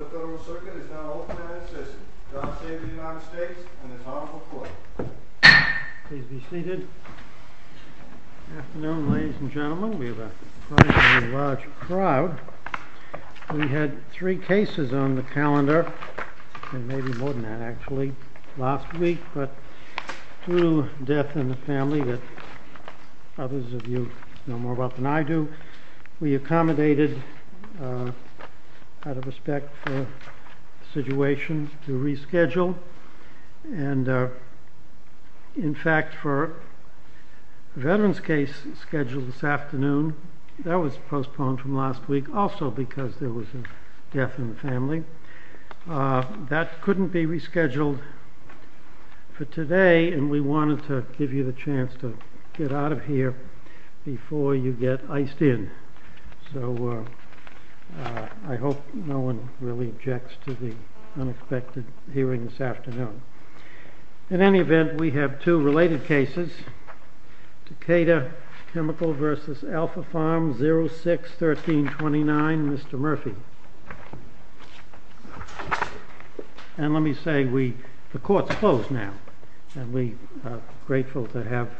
The Federal Circuit is now open and in session. John Sabin of the United States and his Honorable Court. Please be seated. Good afternoon ladies and gentlemen. We have a surprisingly large crowd. We had three cases on the calendar, and maybe more than that actually, last week. But through death in the family that others of you know more about than I do, we accommodated, out of respect for the situation, to reschedule. And in fact for the veterans case scheduled this afternoon, that was postponed from last week also because there was a death in the family, that couldn't be rescheduled for today. And we wanted to give you the chance to get out of here before you get iced in. So I hope no one really objects to the unexpected hearing this afternoon. In any event, we have two related cases. Takeda Chemical v. Alphapharm, 06-1329, Mr. Murphy. Thank you. And let me say, the Court's closed now. And we are grateful to have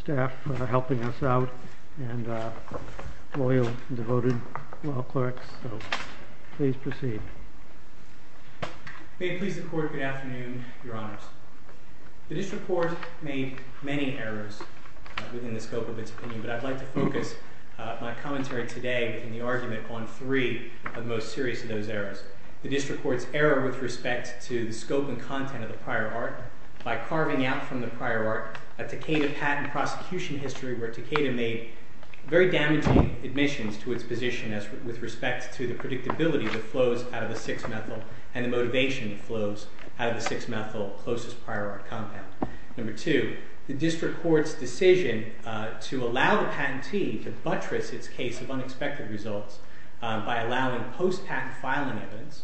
staff helping us out, and loyal and devoted law clerks. So please proceed. May it please the Court, good afternoon, Your Honors. This report made many errors within the scope of its opinion, but I'd like to focus my commentary today in the argument on three of the most serious of those errors. The District Court's error with respect to the scope and content of the prior art by carving out from the prior art a Takeda patent prosecution history where Takeda made very damaging admissions to its position with respect to the predictability that flows out of the 6-methyl and the motivation that flows out of the 6-methyl closest prior art compound. Number two, the District Court's decision to allow the patentee to buttress its case of unexpected results by allowing post-patent filing evidence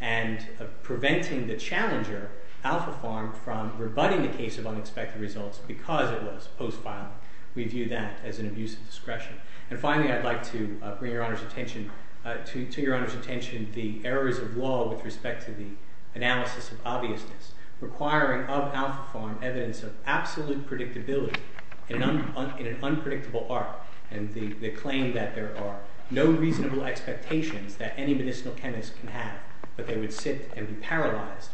and preventing the challenger, Alphapharm, from rebutting the case of unexpected results because it was post-filing. We view that as an abuse of discretion. And finally, I'd like to bring to Your Honor's attention the errors of law with respect to the analysis of obviousness requiring of Alphapharm evidence of absolute predictability in an unpredictable art and the claim that there are no reasonable expectations that any medicinal chemist can have, but they would sit and be paralyzed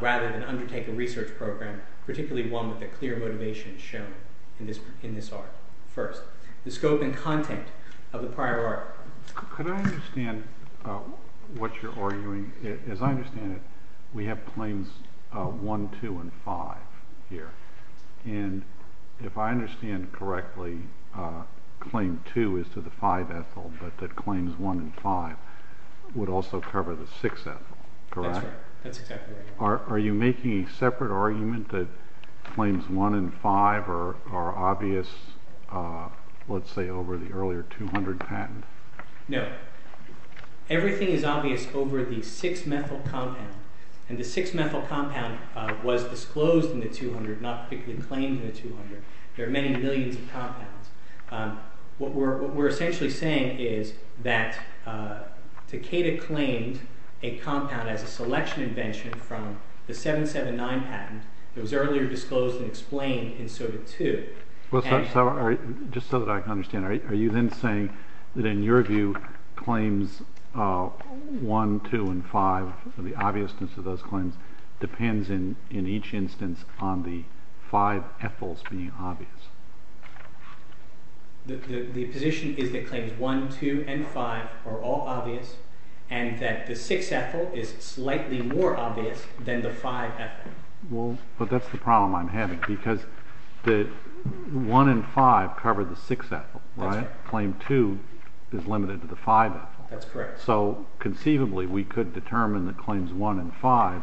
rather than undertake a research program, particularly one with a clear motivation shown in this art. First, the scope and content of the prior art. Could I understand what you're arguing? As I understand it, we have claims 1, 2, and 5 here. And if I understand correctly, claim 2 is to the 5-ethyl, but that claims 1 and 5 would also cover the 6-ethyl, correct? That's right. That's exactly right. Are you making a separate argument that claims 1 and 5 are obvious, let's say, over the earlier 200 patent? No. Everything is obvious over the 6-methyl compound. And the 6-methyl compound was disclosed in the 200, not particularly claimed in the 200. There are many millions of compounds. What we're essentially saying is that Takeda claimed a compound as a selection invention from the 779 patent that was earlier disclosed and explained in Soda 2. Just so that I can understand, are you then saying that in your view claims 1, 2, and 5, the obviousness of those claims, depends in each instance on the 5-ethyls being obvious? The position is that claims 1, 2, and 5 are all obvious and that the 6-ethyl is slightly more obvious than the 5-ethyl. Well, but that's the problem I'm having because 1 and 5 cover the 6-ethyl, right? That's right. Claim 2 is limited to the 5-ethyl. That's correct. So conceivably, we could determine that claims 1 and 5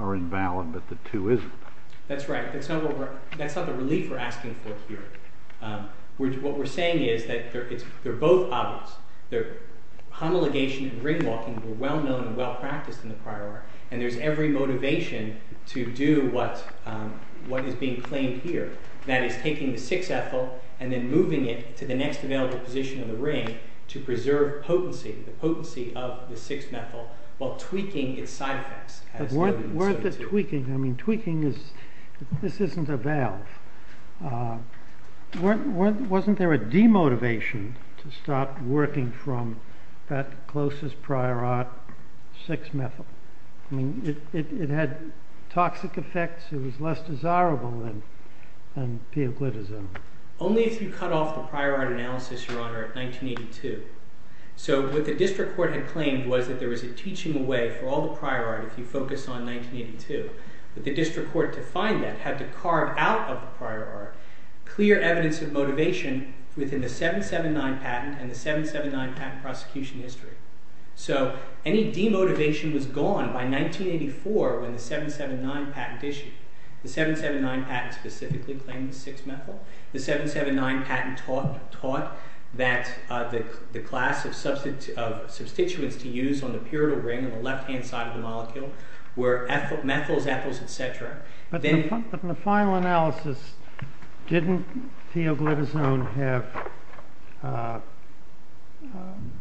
are invalid but the 2 isn't. That's right. That's not the relief we're asking for here. What we're saying is that they're both obvious. Homiligation and ring walking were well known and well practiced in the prior work and there's every motivation to do what is being claimed here. That is taking the 6-ethyl and then moving it to the next available position of the ring to preserve potency, the potency of the 6-methyl while tweaking its side effects. But weren't the tweaking, I mean, tweaking is, this isn't a valve. Wasn't there a demotivation to start working from that closest prior art, 6-methyl? I mean, it had toxic effects. It was less desirable than pioglitazone. Only if you cut off the prior art analysis, Your Honor, of 1982. So what the district court had claimed was that there was a teaching away for all the prior art if you focus on 1982. But the district court, to find that, had to carve out of the prior art clear evidence of motivation within the 779 patent and the 779 patent prosecution history. So any demotivation was gone by 1984 when the 779 patent issued. The 779 patent specifically claimed the 6-methyl. The 779 patent taught that the class of substituents to use on the pyridyl ring on the left-hand side of the molecule were methyls, ethyls, etc. But in the final analysis, didn't pioglitazone have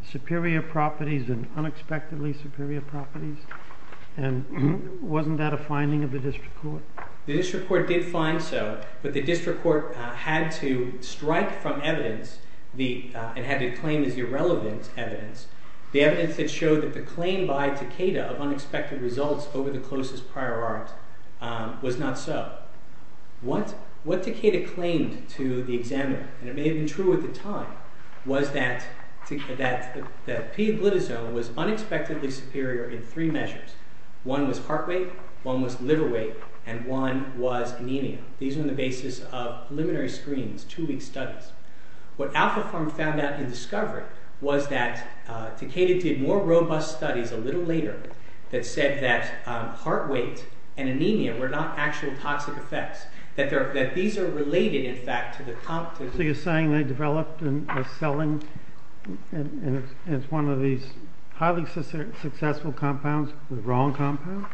superior properties and unexpectedly superior properties? And wasn't that a finding of the district court? The district court did find so, but the district court had to strike from evidence and had to claim as irrelevant evidence the evidence that showed that the claim by Takeda of unexpected results over the closest prior art was not so. What Takeda claimed to the examiner, and it may have been true at the time, was that pioglitazone was unexpectedly superior in three measures. One was heart weight, one was liver weight, and one was anemia. These were on the basis of preliminary screens, two-week studies. What AlphaForm found out in discovery was that Takeda did more robust studies a little later that said that heart weight and anemia were not actual toxic effects, that these are related, in fact, to the... So you're saying they developed and are selling as one of these highly successful compounds the wrong compound?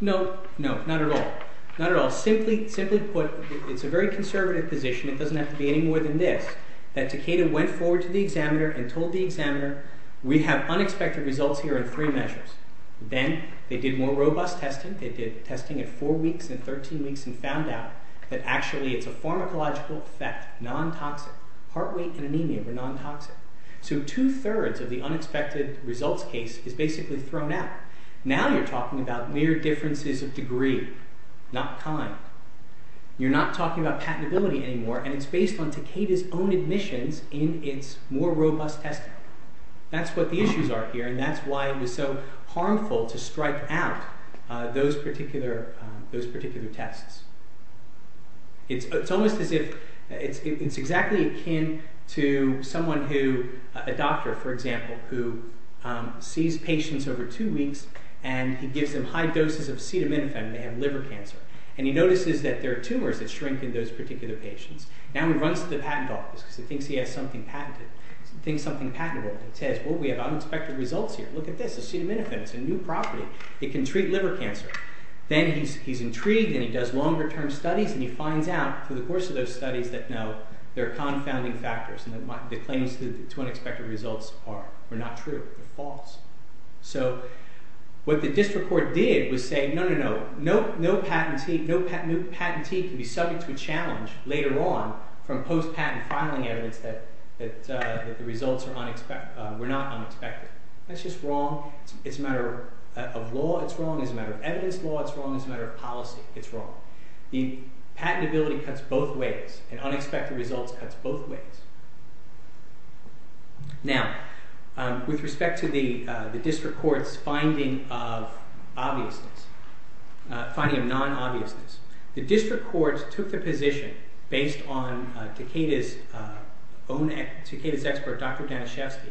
No, not at all. Simply put, it's a very conservative position. It doesn't have to be any more than this, that Takeda went forward to the examiner and told the examiner, we have unexpected results here in three measures. Then they did more robust testing. They did testing at four weeks and 13 weeks and found out that actually it's a pharmacological effect, non-toxic. Heart weight and anemia were non-toxic. So two-thirds of the unexpected results case is basically thrown out. Now you're talking about mere differences of degree, not kind. You're not talking about patentability anymore, and it's based on Takeda's own admissions in its more robust testing. That's what the issues are here, and that's why it was so harmful to strike out those particular tests. It's almost as if... It's exactly akin to someone who... A doctor, for example, who sees patients over two weeks and he gives them high doses of acetaminophen. They have liver cancer. And he notices that there are tumors that shrink in those particular patients. Now he runs to the patent office because he thinks he has something patentable. He says, well, we have unexpected results here. Look at this. Acetaminophen. It's a new property. It can treat liver cancer. Then he's intrigued, and he does longer-term studies, and he finds out through the course of those studies that, no, there are confounding factors and the claims to unexpected results are not true. They're false. So what the district court did was say, no, no, no, no patentee can be subject to a challenge later on from post-patent filing evidence that the results were not unexpected. That's just wrong. It's a matter of law. It's wrong. It's a matter of evidence law. It's wrong. It's a matter of policy. It's wrong. The patentability cuts both ways, and unexpected results cuts both ways. Now, with respect to the district court's finding of obviousness... finding of non-obviousness, the district court took the position, based on Takeda's own... Takeda's expert, Dr. Daniszewski,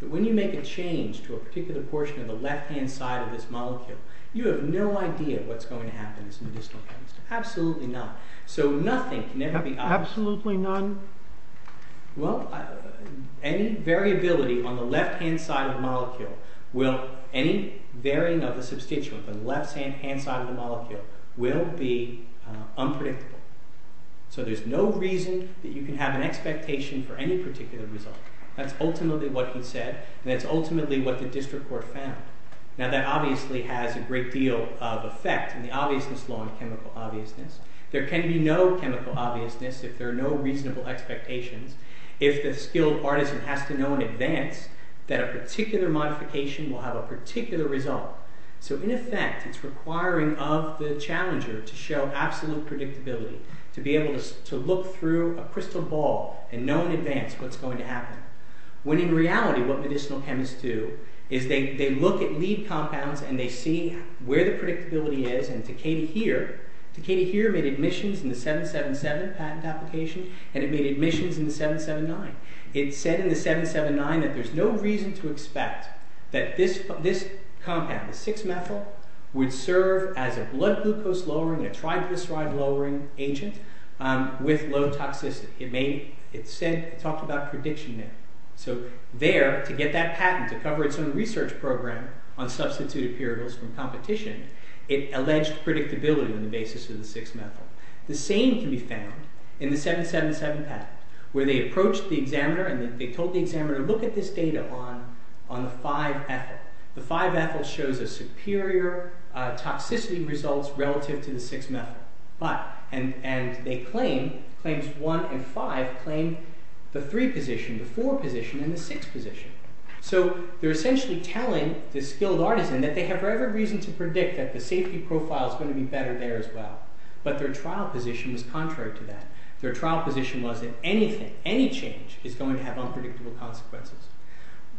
that when you make a change to a particular portion of the left-hand side of this molecule, you have no idea what's going to happen in this medicinal chemistry. Absolutely not. So nothing can ever be obvious. Absolutely none? Well, any variability on the left-hand side of the molecule will... any varying of the substituent on the left-hand side of the molecule will be unpredictable. So there's no reason that you can have an expectation for any particular result. That's ultimately what he said, and that's ultimately what the district court found. Now, that obviously has a great deal of effect in the obviousness law on chemical obviousness. There can be no chemical obviousness if there are no reasonable expectations. If the skilled artisan has to know in advance that a particular modification will have a particular result. So in effect, it's requiring of the challenger to show absolute predictability, to be able to look through a crystal ball and know in advance what's going to happen. When in reality, what medicinal chemists do is they look at lead compounds and they see where the predictability is, and to Katie Heer... Katie Heer made admissions in the 777 patent application, and it made admissions in the 779. It said in the 779 that there's no reason to expect that this compound, the 6-methyl, would serve as a blood glucose-lowering, a triglyceride-lowering agent with low toxicity. It talked about prediction there. So there, to get that patent, to cover its own research program on substituted puritals from competition, it alleged predictability on the basis of the 6-methyl. The same can be found in the 777 patent, where they approached the examiner and they told the examiner, look at this data on the 5-ethyl. The 5-ethyl shows a superior toxicity result relative to the 6-methyl. And they claim, claims 1 and 5, claim the 3 position, the 4 position, and the 6 position. So they're essentially telling the skilled artisan that they have every reason to predict that the safety profile is going to be better there as well. But their trial position was contrary to that. Their trial position was that anything, any change, is going to have unpredictable consequences.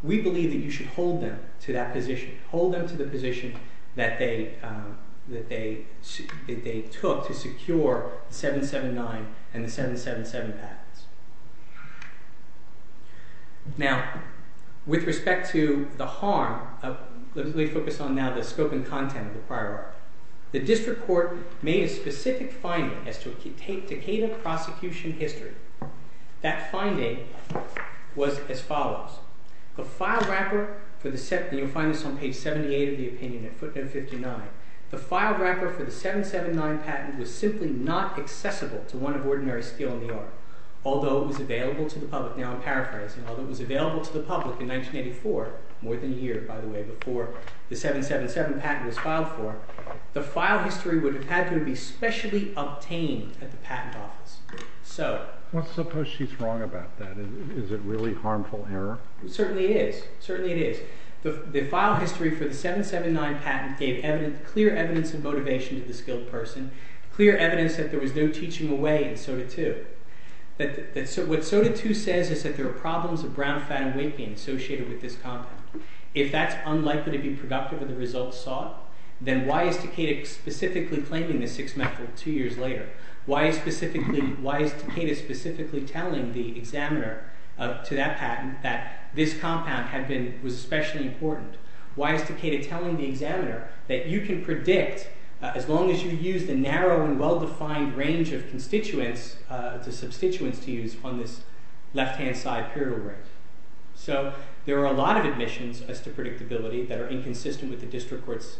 We believe that you should hold them to that position, hold them to the position that they took to secure the 779 and the 777 patents. Now, with respect to the harm, let me focus on now the scope and content of the prior article. The district court made a specific finding as to a Takeda prosecution history. That finding was as follows. The file record for the, and you'll find this on page 78 of the opinion at footnote 59, the file record for the 779 patent was simply not accessible to one of ordinary skilled in the art. Although it was available to the public, now I'm paraphrasing, although it was available to the public in 1984, more than a year, by the way, before the 777 patent was filed for, the file history would have had to be specially obtained at the patent office. So... Let's suppose she's wrong about that. Is it really harmful error? Certainly it is. Certainly it is. The file history for the 779 patent gave clear evidence of motivation to the skilled person, clear evidence that there was no teaching away in SOTA 2. What SOTA 2 says is that there are problems of brown fat and weight gain associated with this content. If that's unlikely to be productive of the results sought, then why is Takeda specifically claiming this six-month rule two years later? Why is Takeda specifically telling the examiner to that patent that this compound was especially important? Why is Takeda telling the examiner that you can predict as long as you use the narrow and well-defined range of constituents, the substituents to use on this left-hand side period of range? So there are a lot of admissions as to predictability that are inconsistent with the district court's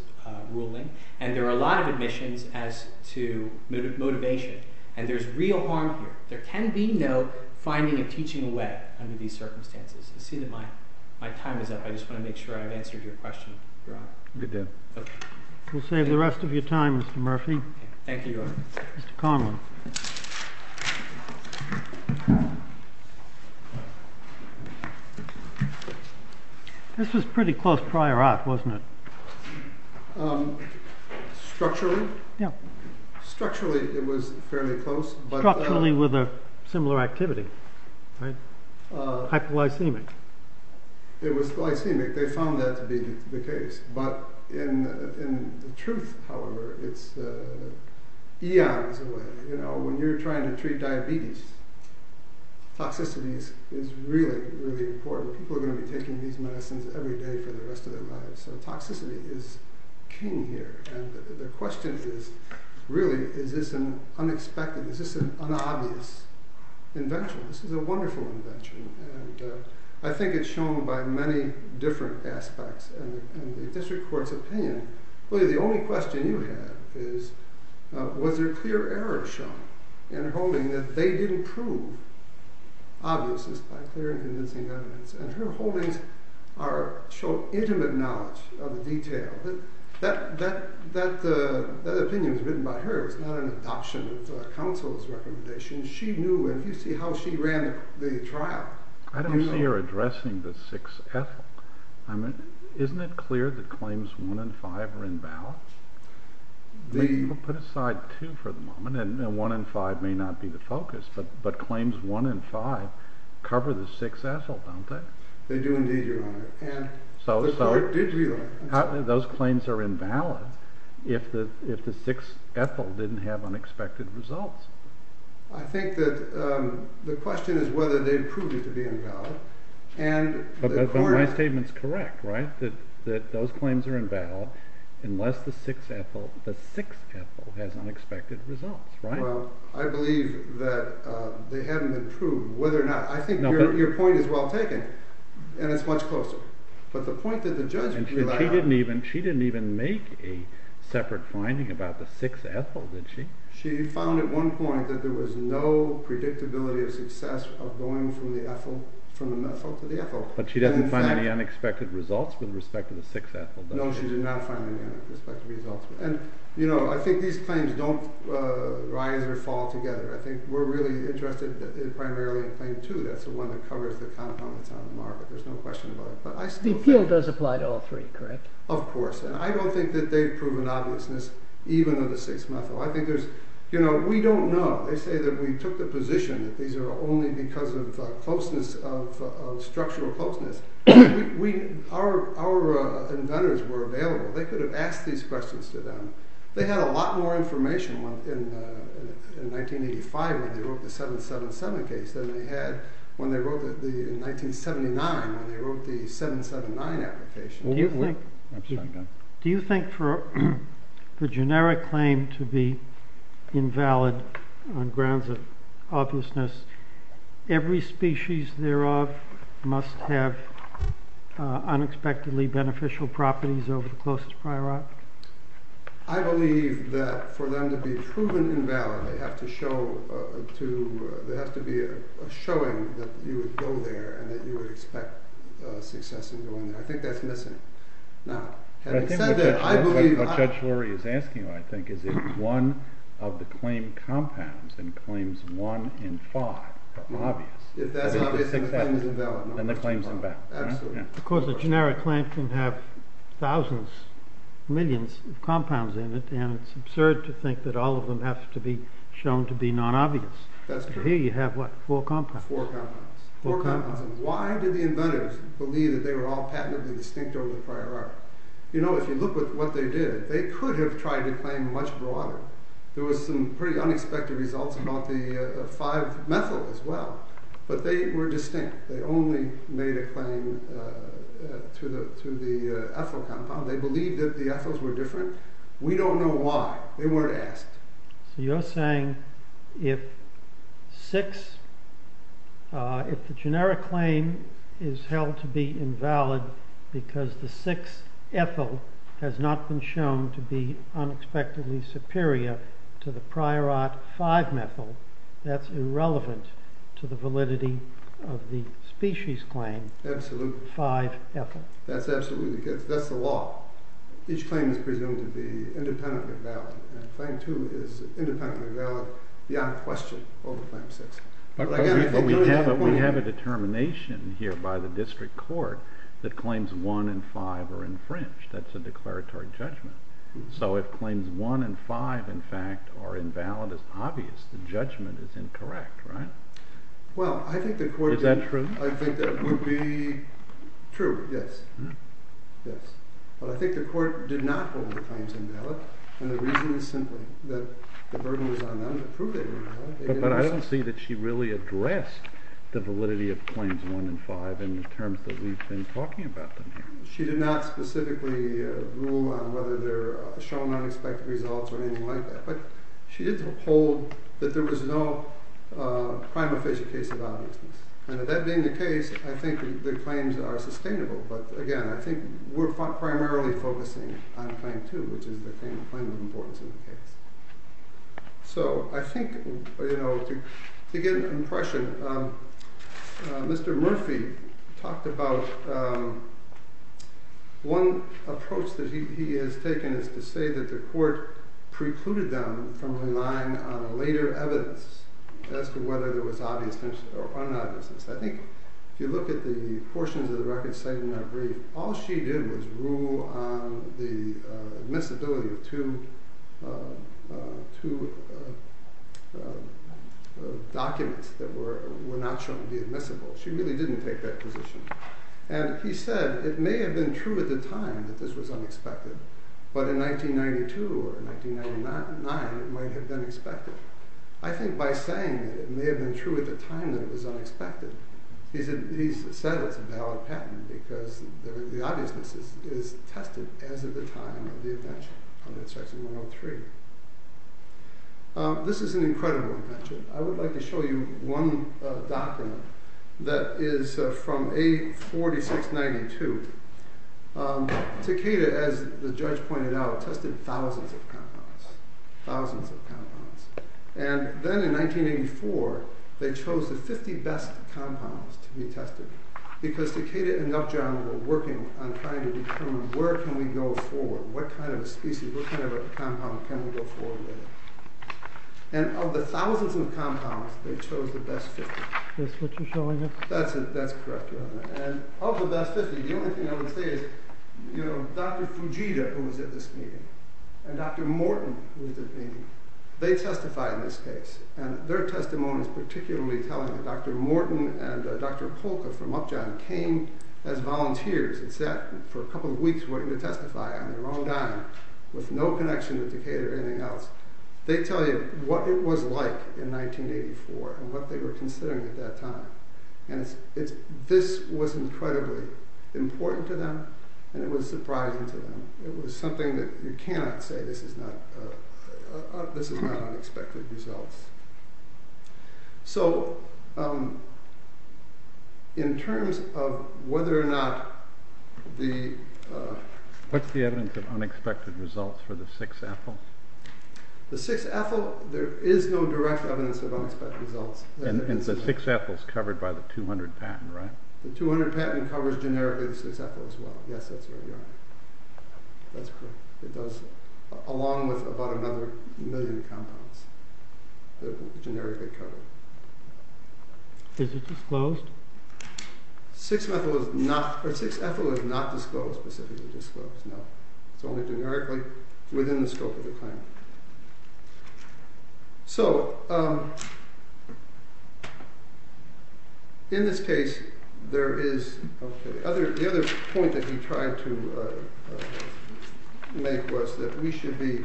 ruling, and there are a lot of admissions as to motivation, and there's real harm here. There can be no finding of teaching away under these circumstances. I see that my time is up. I just want to make sure I've answered your question, Your Honor. Good deal. We'll save the rest of your time, Mr. Murphy. Thank you, Your Honor. Mr. Conlon. This was pretty close prior art, wasn't it? Structurally? Structurally, it was fairly close. Structurally with a similar activity, right? Hypoglycemic. It was glycemic. They found that to be the case. But in truth, however, it's eons away. You know, when you're trying to treat diabetes, toxicity is really, really important. People are going to be taking these medicines every day for the rest of their lives. So toxicity is king here. And the question is, really, is this an unexpected, is this an unobvious invention? This is a wonderful invention. And I think it's shown by many different aspects. And the district court's opinion, really the only question you have is, was there clear error shown in her holding that they didn't prove obviousness by clear and convincing evidence? And her holdings show intimate knowledge of the detail. That opinion was written by her. It was not an adoption of counsel's recommendation. She knew. And if you see how she ran the trial, you know. I don't see her addressing the 6-ethyl. Isn't it clear that claims 1 and 5 are in balance? Put aside 2 for the moment, and 1 and 5 may not be the focus. But claims 1 and 5 cover the 6-ethyl, don't they? They do indeed, Your Honor. And the court did realize that. Those claims are invalid if the 6-ethyl didn't have unexpected results. I think that the question is whether they've proved it to be invalid. But my statement's correct, right? That those claims are invalid unless the 6-ethyl has unexpected results, right? Well, I believe that they haven't been proved whether or not. I think your point is well taken, and it's much closer. But the point that the judge relied on. And she didn't even make a separate finding about the 6-ethyl, did she? She found at one point that there was no predictability of success of going from the methyl to the ethyl. But she doesn't find any unexpected results with respect to the 6-ethyl, does she? No, she did not find any unexpected results. And, you know, I think these claims don't rise or fall together. I think we're really interested primarily in claim 2. That's the one that covers the compounds on the market. There's no question about it. The appeal does apply to all three, correct? Of course. And I don't think that they've proven obviousness even of the 6-methyl. I think there's, you know, we don't know. They say that we took the position that these are only because of closeness, of structural closeness. Our inventors were available. They could have asked these questions to them. They had a lot more information in 1985 when they wrote the 7-7-7 case than they had in 1979 when they wrote the 7-7-9 application. Do you think for the generic claim to be invalid on grounds of obviousness, every species thereof must have unexpectedly beneficial properties over the closest priority? I believe that for them to be proven invalid, they have to be a showing that you would go there and that you would expect success in going there. I think that's missing now. Having said that, I believe that. What Judge Lurie is asking, I think, is if one of the claim compounds in claims 1 and 5 are obvious. If that's obvious, then the claim is invalid. Then the claim is invalid. Absolutely. Of course, a generic claim can have thousands, millions of compounds in it, and it's absurd to think that all of them have to be shown to be non-obvious. That's true. Here you have, what, four compounds. Four compounds. Four compounds. Why did the inventors believe that they were all patently distinct over the prior art? You know, if you look at what they did, they could have tried to claim much broader. There were some pretty unexpected results about the 5-methyl as well, but they were distinct. They only made a claim to the ethyl compound. They believed that the ethyls were different. We don't know why. They weren't asked. So you're saying if the generic claim is held to be invalid because the 6-ethyl has not been shown to be unexpectedly superior to the prior art 5-methyl, that's irrelevant to the validity of the species claim 5-ethyl? Absolutely. That's the law. Each claim is presumed to be independently valid, and claim 2 is independently valid beyond question over claim 6. But we have a determination here by the district court that claims 1 and 5 are infringed. That's a declaratory judgment. The judgment is incorrect, right? Is that true? I think that would be true, yes. But I think the court did not hold the claims invalid, and the reason is simply that the burden was on them to prove they were invalid. But I don't see that she really addressed the validity of claims 1 and 5 in the terms that we've been talking about them here. She did not specifically rule on whether they're shown unexpected results or anything like that, but she did hold that there was no prima facie case of obviousness. And that being the case, I think the claims are sustainable. But, again, I think we're primarily focusing on claim 2, which is the claim of importance in the case. So I think to get an impression, Mr. Murphy talked about one approach that he has taken is to say that the court precluded them from relying on later evidence as to whether there was obviousness or unobviousness. I think if you look at the portions of the record cited in that brief, all she did was rule on the admissibility of two documents that were not shown to be admissible. She really didn't take that position. And he said it may have been true at the time that this was unexpected, but in 1992 or 1999, it might have been expected. I think by saying that it may have been true at the time that it was unexpected, he said it's a valid patent because the obviousness is tested as of the time of the invention, under section 103. This is an incredible invention. I would like to show you one document that is from A4692. Takeda, as the judge pointed out, tested thousands of compounds. Thousands of compounds. And then in 1984, they chose the 50 best compounds to be tested because Takeda and Nupjohn were working on trying to determine where can we go forward? What kind of a species, what kind of a compound can we go forward with? And of the thousands of compounds, they chose the best 50. Is this what you're showing us? That's correct, Your Honor. And of the best 50, the only thing I would say is Dr. Fujita, who was at this meeting, and Dr. Morton, who was at the meeting, they testified in this case. And their testimony is particularly telling that Dr. Morton and Dr. Polka from Nupjohn came as volunteers and sat for a couple of weeks waiting to testify on their own dime with no connection to Takeda or anything else. They tell you what it was like in 1984 and what they were considering at that time. And this was incredibly important to them, and it was surprising to them. It was something that you cannot say this is not unexpected results. So in terms of whether or not the... What's the evidence of unexpected results for the 6-ethyl? The 6-ethyl, there is no direct evidence of unexpected results. And the 6-ethyl is covered by the 200 patent, right? The 200 patent covers generically the 6-ethyl as well. Yes, that's right, Your Honor. That's correct. It does, along with about another million compounds that are generically covered. Is it disclosed? 6-ethyl is not disclosed, specifically disclosed, no. It's only generically within the scope of the claim. So in this case, there is... The other point that he tried to make was that we should be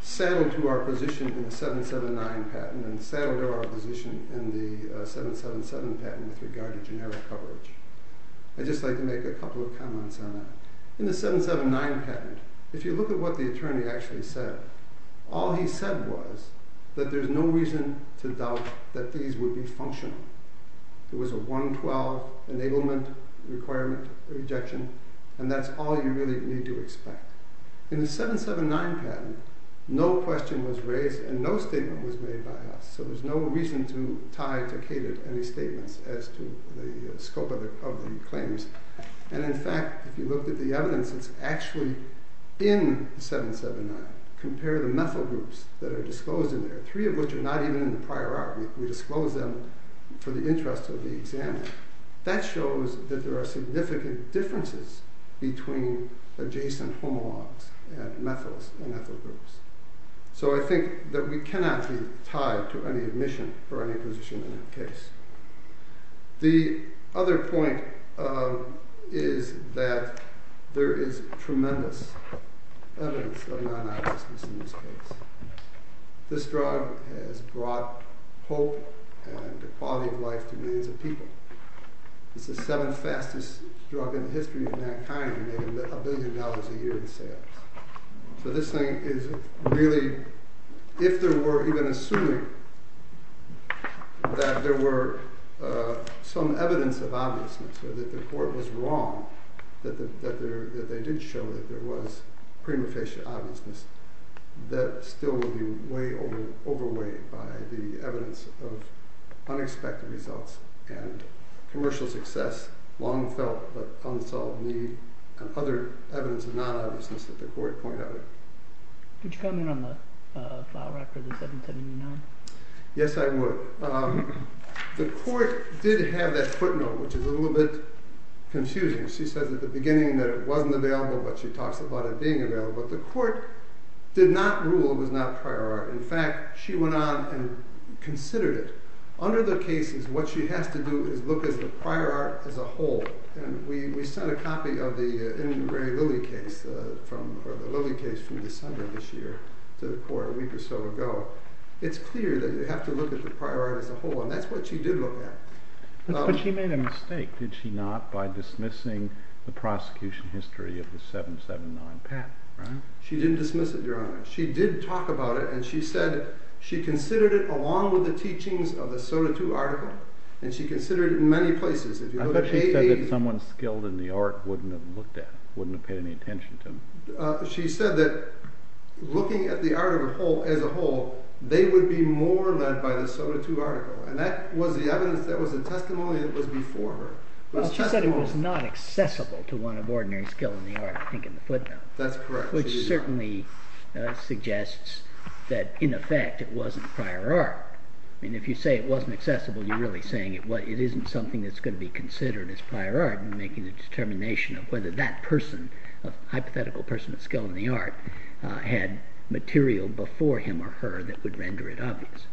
saddled to our position in the 7-7-9 patent and saddled to our position in the 7-7-7 patent with regard to generic coverage. I'd just like to make a couple of comments on that. In the 7-7-9 patent, if you look at what the attorney actually said, all he said was that there's no reason to doubt that these would be functional. There was a 112 enablement requirement rejection, and that's all you really need to expect. In the 7-7-9 patent, no question was raised and no statement was made by us, so there's no reason to tie or ticket any statements as to the scope of the claims. And in fact, if you look at the evidence that's actually in the 7-7-9, compare the methyl groups that are disclosed in there, three of which are not even in the prior art. We disclosed them for the interest of the examiner. That shows that there are significant differences between adjacent homologs and methyls and ethyl groups. So I think that we cannot be tied to any admission for any position in that case. The other point is that there is tremendous evidence of non-obviousness in this case. This drug has brought hope and equality of life to millions of people. It's the seventh fastest drug in the history of mankind, making a billion dollars a year in sales. So this thing is really, if there were even assuming that there were some evidence of obviousness, or that the court was wrong, that they did show that there was prima facie obviousness, that still would be way overweighed by the evidence of unexpected results and commercial success, long felt but unsolved need, and other evidence of non-obviousness that the court pointed out. Would you comment on the file record of the 7-7-9? Yes, I would. The court did have that footnote, which is a little bit confusing. She says at the beginning that it wasn't available, but she talks about it being available. But the court did not rule it was not prior art. In fact, she went on and considered it. Under the cases, what she has to do is look at the prior art as a whole. We sent a copy of the Ingray Lilly case from December this year to the court a week or so ago. It's clear that you have to look at the prior art as a whole, and that's what she did look at. But she made a mistake, did she not, by dismissing the prosecution history of the 7-7-9 patent, right? She didn't dismiss it, Your Honor. She did talk about it, and she said she considered it along with the teachings of the SOTA II article. She considered it in many places. I thought she said that someone skilled in the art wouldn't have looked at it, wouldn't have paid any attention to it. She said that looking at the article as a whole, they would be more led by the SOTA II article. That was the evidence, that was the testimony that was before her. She said it was not accessible to one of ordinary skill in the art, I think in the footnote. That's correct. Which certainly suggests that, in effect, it wasn't prior art. If you say it wasn't accessible, you're really saying it isn't something that's going to be considered as prior art and making a determination of whether that person, a hypothetical person of skill in the art, had material before him or her that would render it obvious.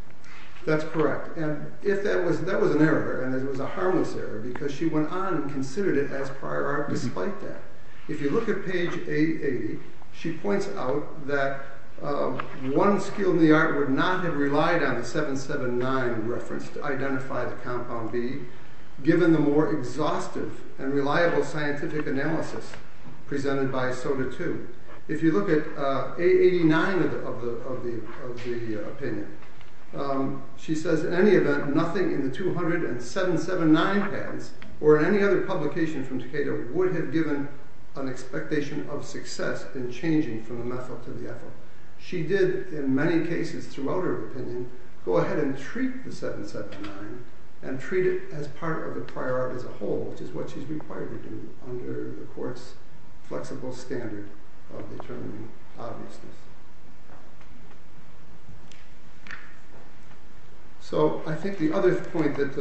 That's correct. That was an error, and it was a harmless error, because she went on and considered it as prior art despite that. If you look at page 880, she points out that one skill in the art would not have relied on the 779 reference to identify the compound B, given the more exhaustive and reliable scientific analysis presented by SOTA II. If you look at 889 of the opinion, she says, in any event, nothing in the 2779 patents or in any other publication from Takeda would have given an expectation of success in changing from the methyl to the ethyl. She did, in many cases throughout her opinion, go ahead and treat the 779 and treat it as part of the prior art as a whole, which is what she's required to do under the court's flexible standard of determining obviousness. So I think the other point that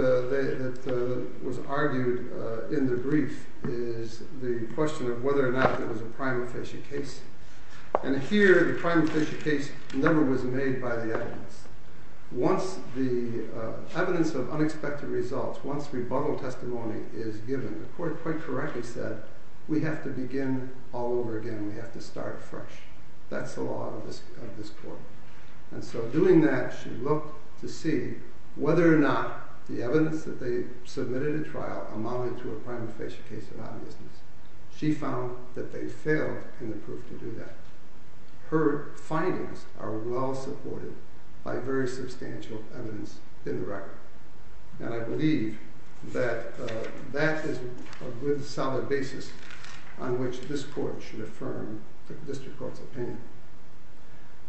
was argued in the brief is the question of whether or not it was a prime official case. And here, the prime official case never was made by the evidence. Once the evidence of unexpected results, once rebuttal testimony is given, the court quite correctly said, we have to begin all over again. We have to start fresh. That's the law of this court. And so doing that, she looked to see whether or not the evidence that they submitted at trial amounted to a prime official case of obviousness. She found that they failed in the proof to do that. Her findings are well supported by very substantial evidence in the record. And I believe that that is a good, solid basis on which this court should affirm the district court's opinion.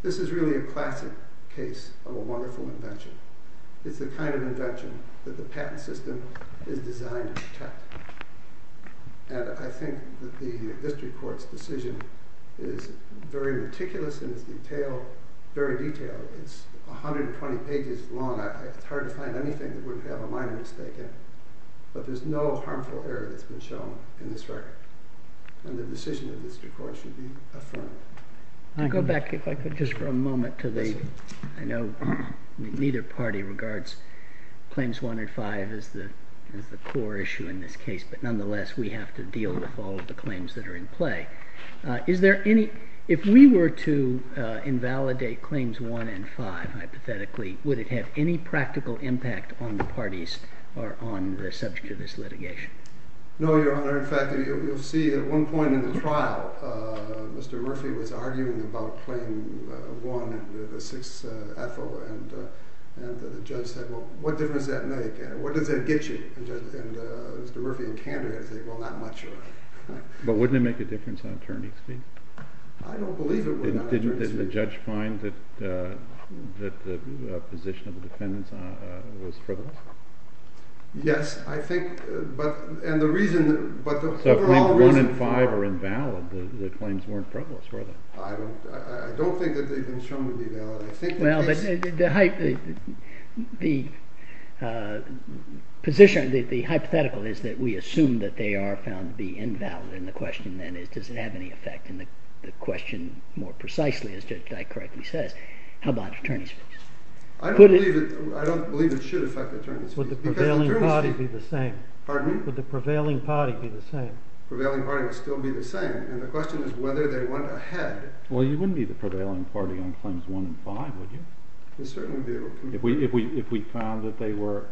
This is really a classic case of a wonderful invention. It's the kind of invention that the patent system is designed to protect. And I think that the district court's decision is very meticulous and is detailed, very detailed. It's 120 pages long. It's hard to find anything that would have a minor mistake in it. But there's no harmful error that's been shown in this record. And the decision of the district court should be affirmed. Can I go back, if I could, just for a moment to the—I know neither party regards Claims 1 and 5 as the core issue in this case. But nonetheless, we have to deal with all of the claims that are in play. Is there any—if we were to invalidate Claims 1 and 5, hypothetically, would it have any practical impact on the parties or on the subject of this litigation? No, Your Honor. In fact, you'll see at one point in the trial, Mr. Murphy was arguing about Claim 1 and the 6th Ethel. And the judge said, well, what difference does that make? What does that get you? And Mr. Murphy in Canada said, well, not much, Your Honor. But wouldn't it make a difference on attorney's feet? I don't believe it would on attorney's feet. Didn't the judge find that the position of the defendants was frivolous? Yes, I think—and the reason— So if Claims 1 and 5 are invalid, the claims weren't frivolous, were they? I don't think that they've been shown to be valid. I think the case— The position—the hypothetical is that we assume that they are found to be invalid. And the question then is, does it have any effect? And the question more precisely, as Judge Dyke correctly says, how about attorney's feet? I don't believe it should affect attorney's feet. Would the prevailing party be the same? Pardon me? Would the prevailing party be the same? The prevailing party would still be the same. And the question is whether they went ahead. Well, you wouldn't be the prevailing party on Claims 1 and 5, would you? If we found that they were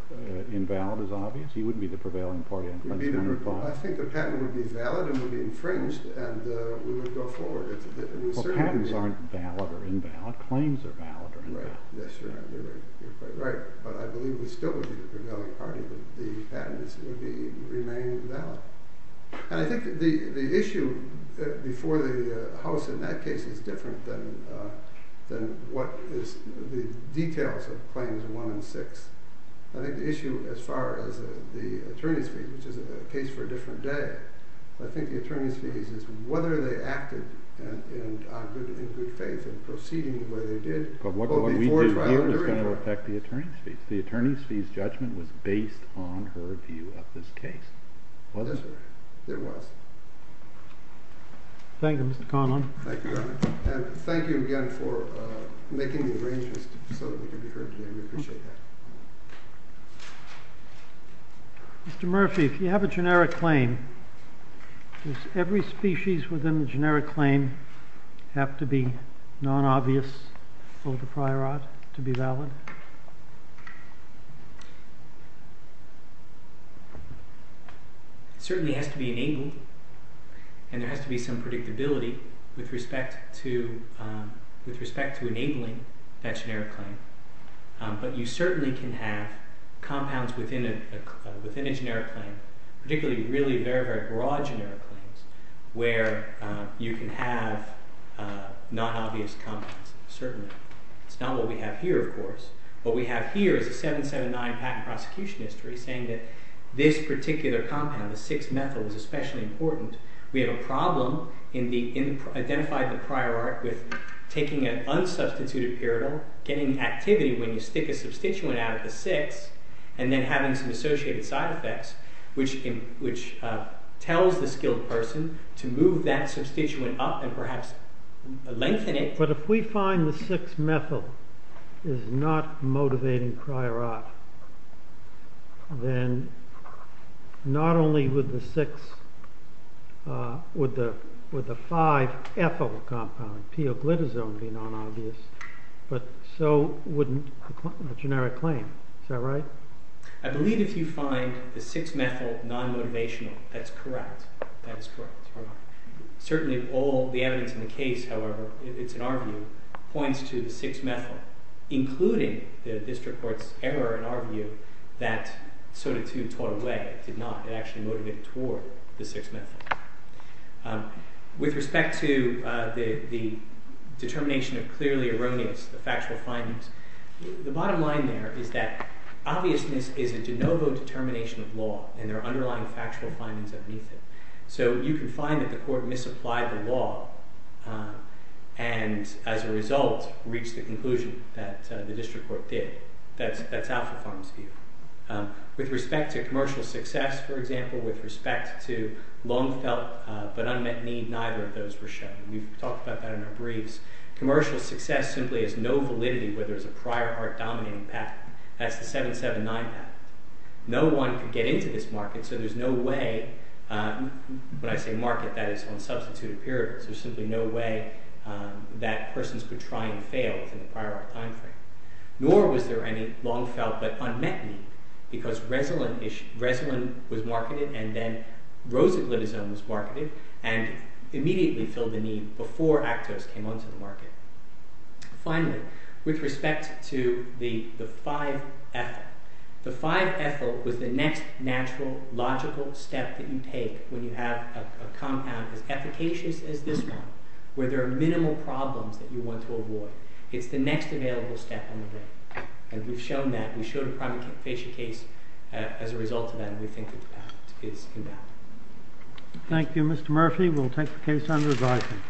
invalid, as obvious, you wouldn't be the prevailing party on Claims 1 and 5. I think a patent would be valid and would be infringed, and we would go forward. Well, patents aren't valid or invalid. Claims are valid or invalid. Yes, sir. You're quite right. But I believe we still would be the prevailing party, but the patents would remain valid. I think the issue before the House in that case is different than what is the details of Claims 1 and 6. I think the issue as far as the attorney's fees, which is a case for a different day, I think the attorney's fees is whether they acted in good faith in proceeding the way they did. But what we did here was going to affect the attorney's fees. The attorney's fees judgment was based on her view of this case. Was it? It was. Thank you, Mr. Conlon. Thank you. And thank you again for making the arrangements so that we could be heard today. We appreciate that. Mr. Murphy, if you have a generic claim, does every species within the generic claim have to be non-obvious for the prior art to be valid? It certainly has to be enabled, and there has to be some predictability with respect to enabling that generic claim. But you certainly can have compounds within a generic claim, particularly really very, very broad generic claims, where you can have non-obvious compounds, certainly. It's not what we have here, of course. What we have here is a 779 patent prosecution history saying that this particular compound, the 6-methyl, is especially important. We have a problem in identifying the prior art with taking an unsubstituted period, getting activity when you stick a substituent out of the 6, and then having some associated side effects, which tells the skilled person to move that substituent up and perhaps lengthen it. But if we find the 6-methyl is not motivating prior art, then not only would the 5-ethyl compound, p-oglitazone, be non-obvious, but so would the generic claim. Is that right? I believe if you find the 6-methyl non-motivational, that's correct. Certainly all the evidence in the case, however, if it's in our view, points to the 6-methyl, including the district court's error in our view that soda 2 tore away. It did not. It actually motivated toward the 6-methyl. With respect to the determination of clearly erroneous factual findings, the bottom line there is that obviousness is a de novo determination of law, and there are underlying factual findings underneath it. So you can find that the court misapplied the law, and as a result, reached the conclusion that the district court did. That's Alford Farms' view. With respect to commercial success, for example, with respect to long felt but unmet need, neither of those were shown. We've talked about that in our briefs. Commercial success simply is no validity where there's a prior art dominating patent. That's the 7-7-9 patent. No one could get into this market, so there's no way, when I say market, that is on substituted periods. There's simply no way that persons could try and fail within the prior art time frame. Nor was there any long felt but unmet need, because Resolin was marketed, and then Rosaglitazone was marketed, and immediately filled the need before Actos came onto the market. Finally, with respect to the 5-ethyl. The 5-ethyl was the next natural, logical step that you take when you have a compound as efficacious as this one, where there are minimal problems that you want to avoid. It's the next available step on the way, and we've shown that. We showed a primary case as a result of that, and we think that the patent is in doubt. Thank you, Mr. Murphy. We'll take the case under advisement. Thank you.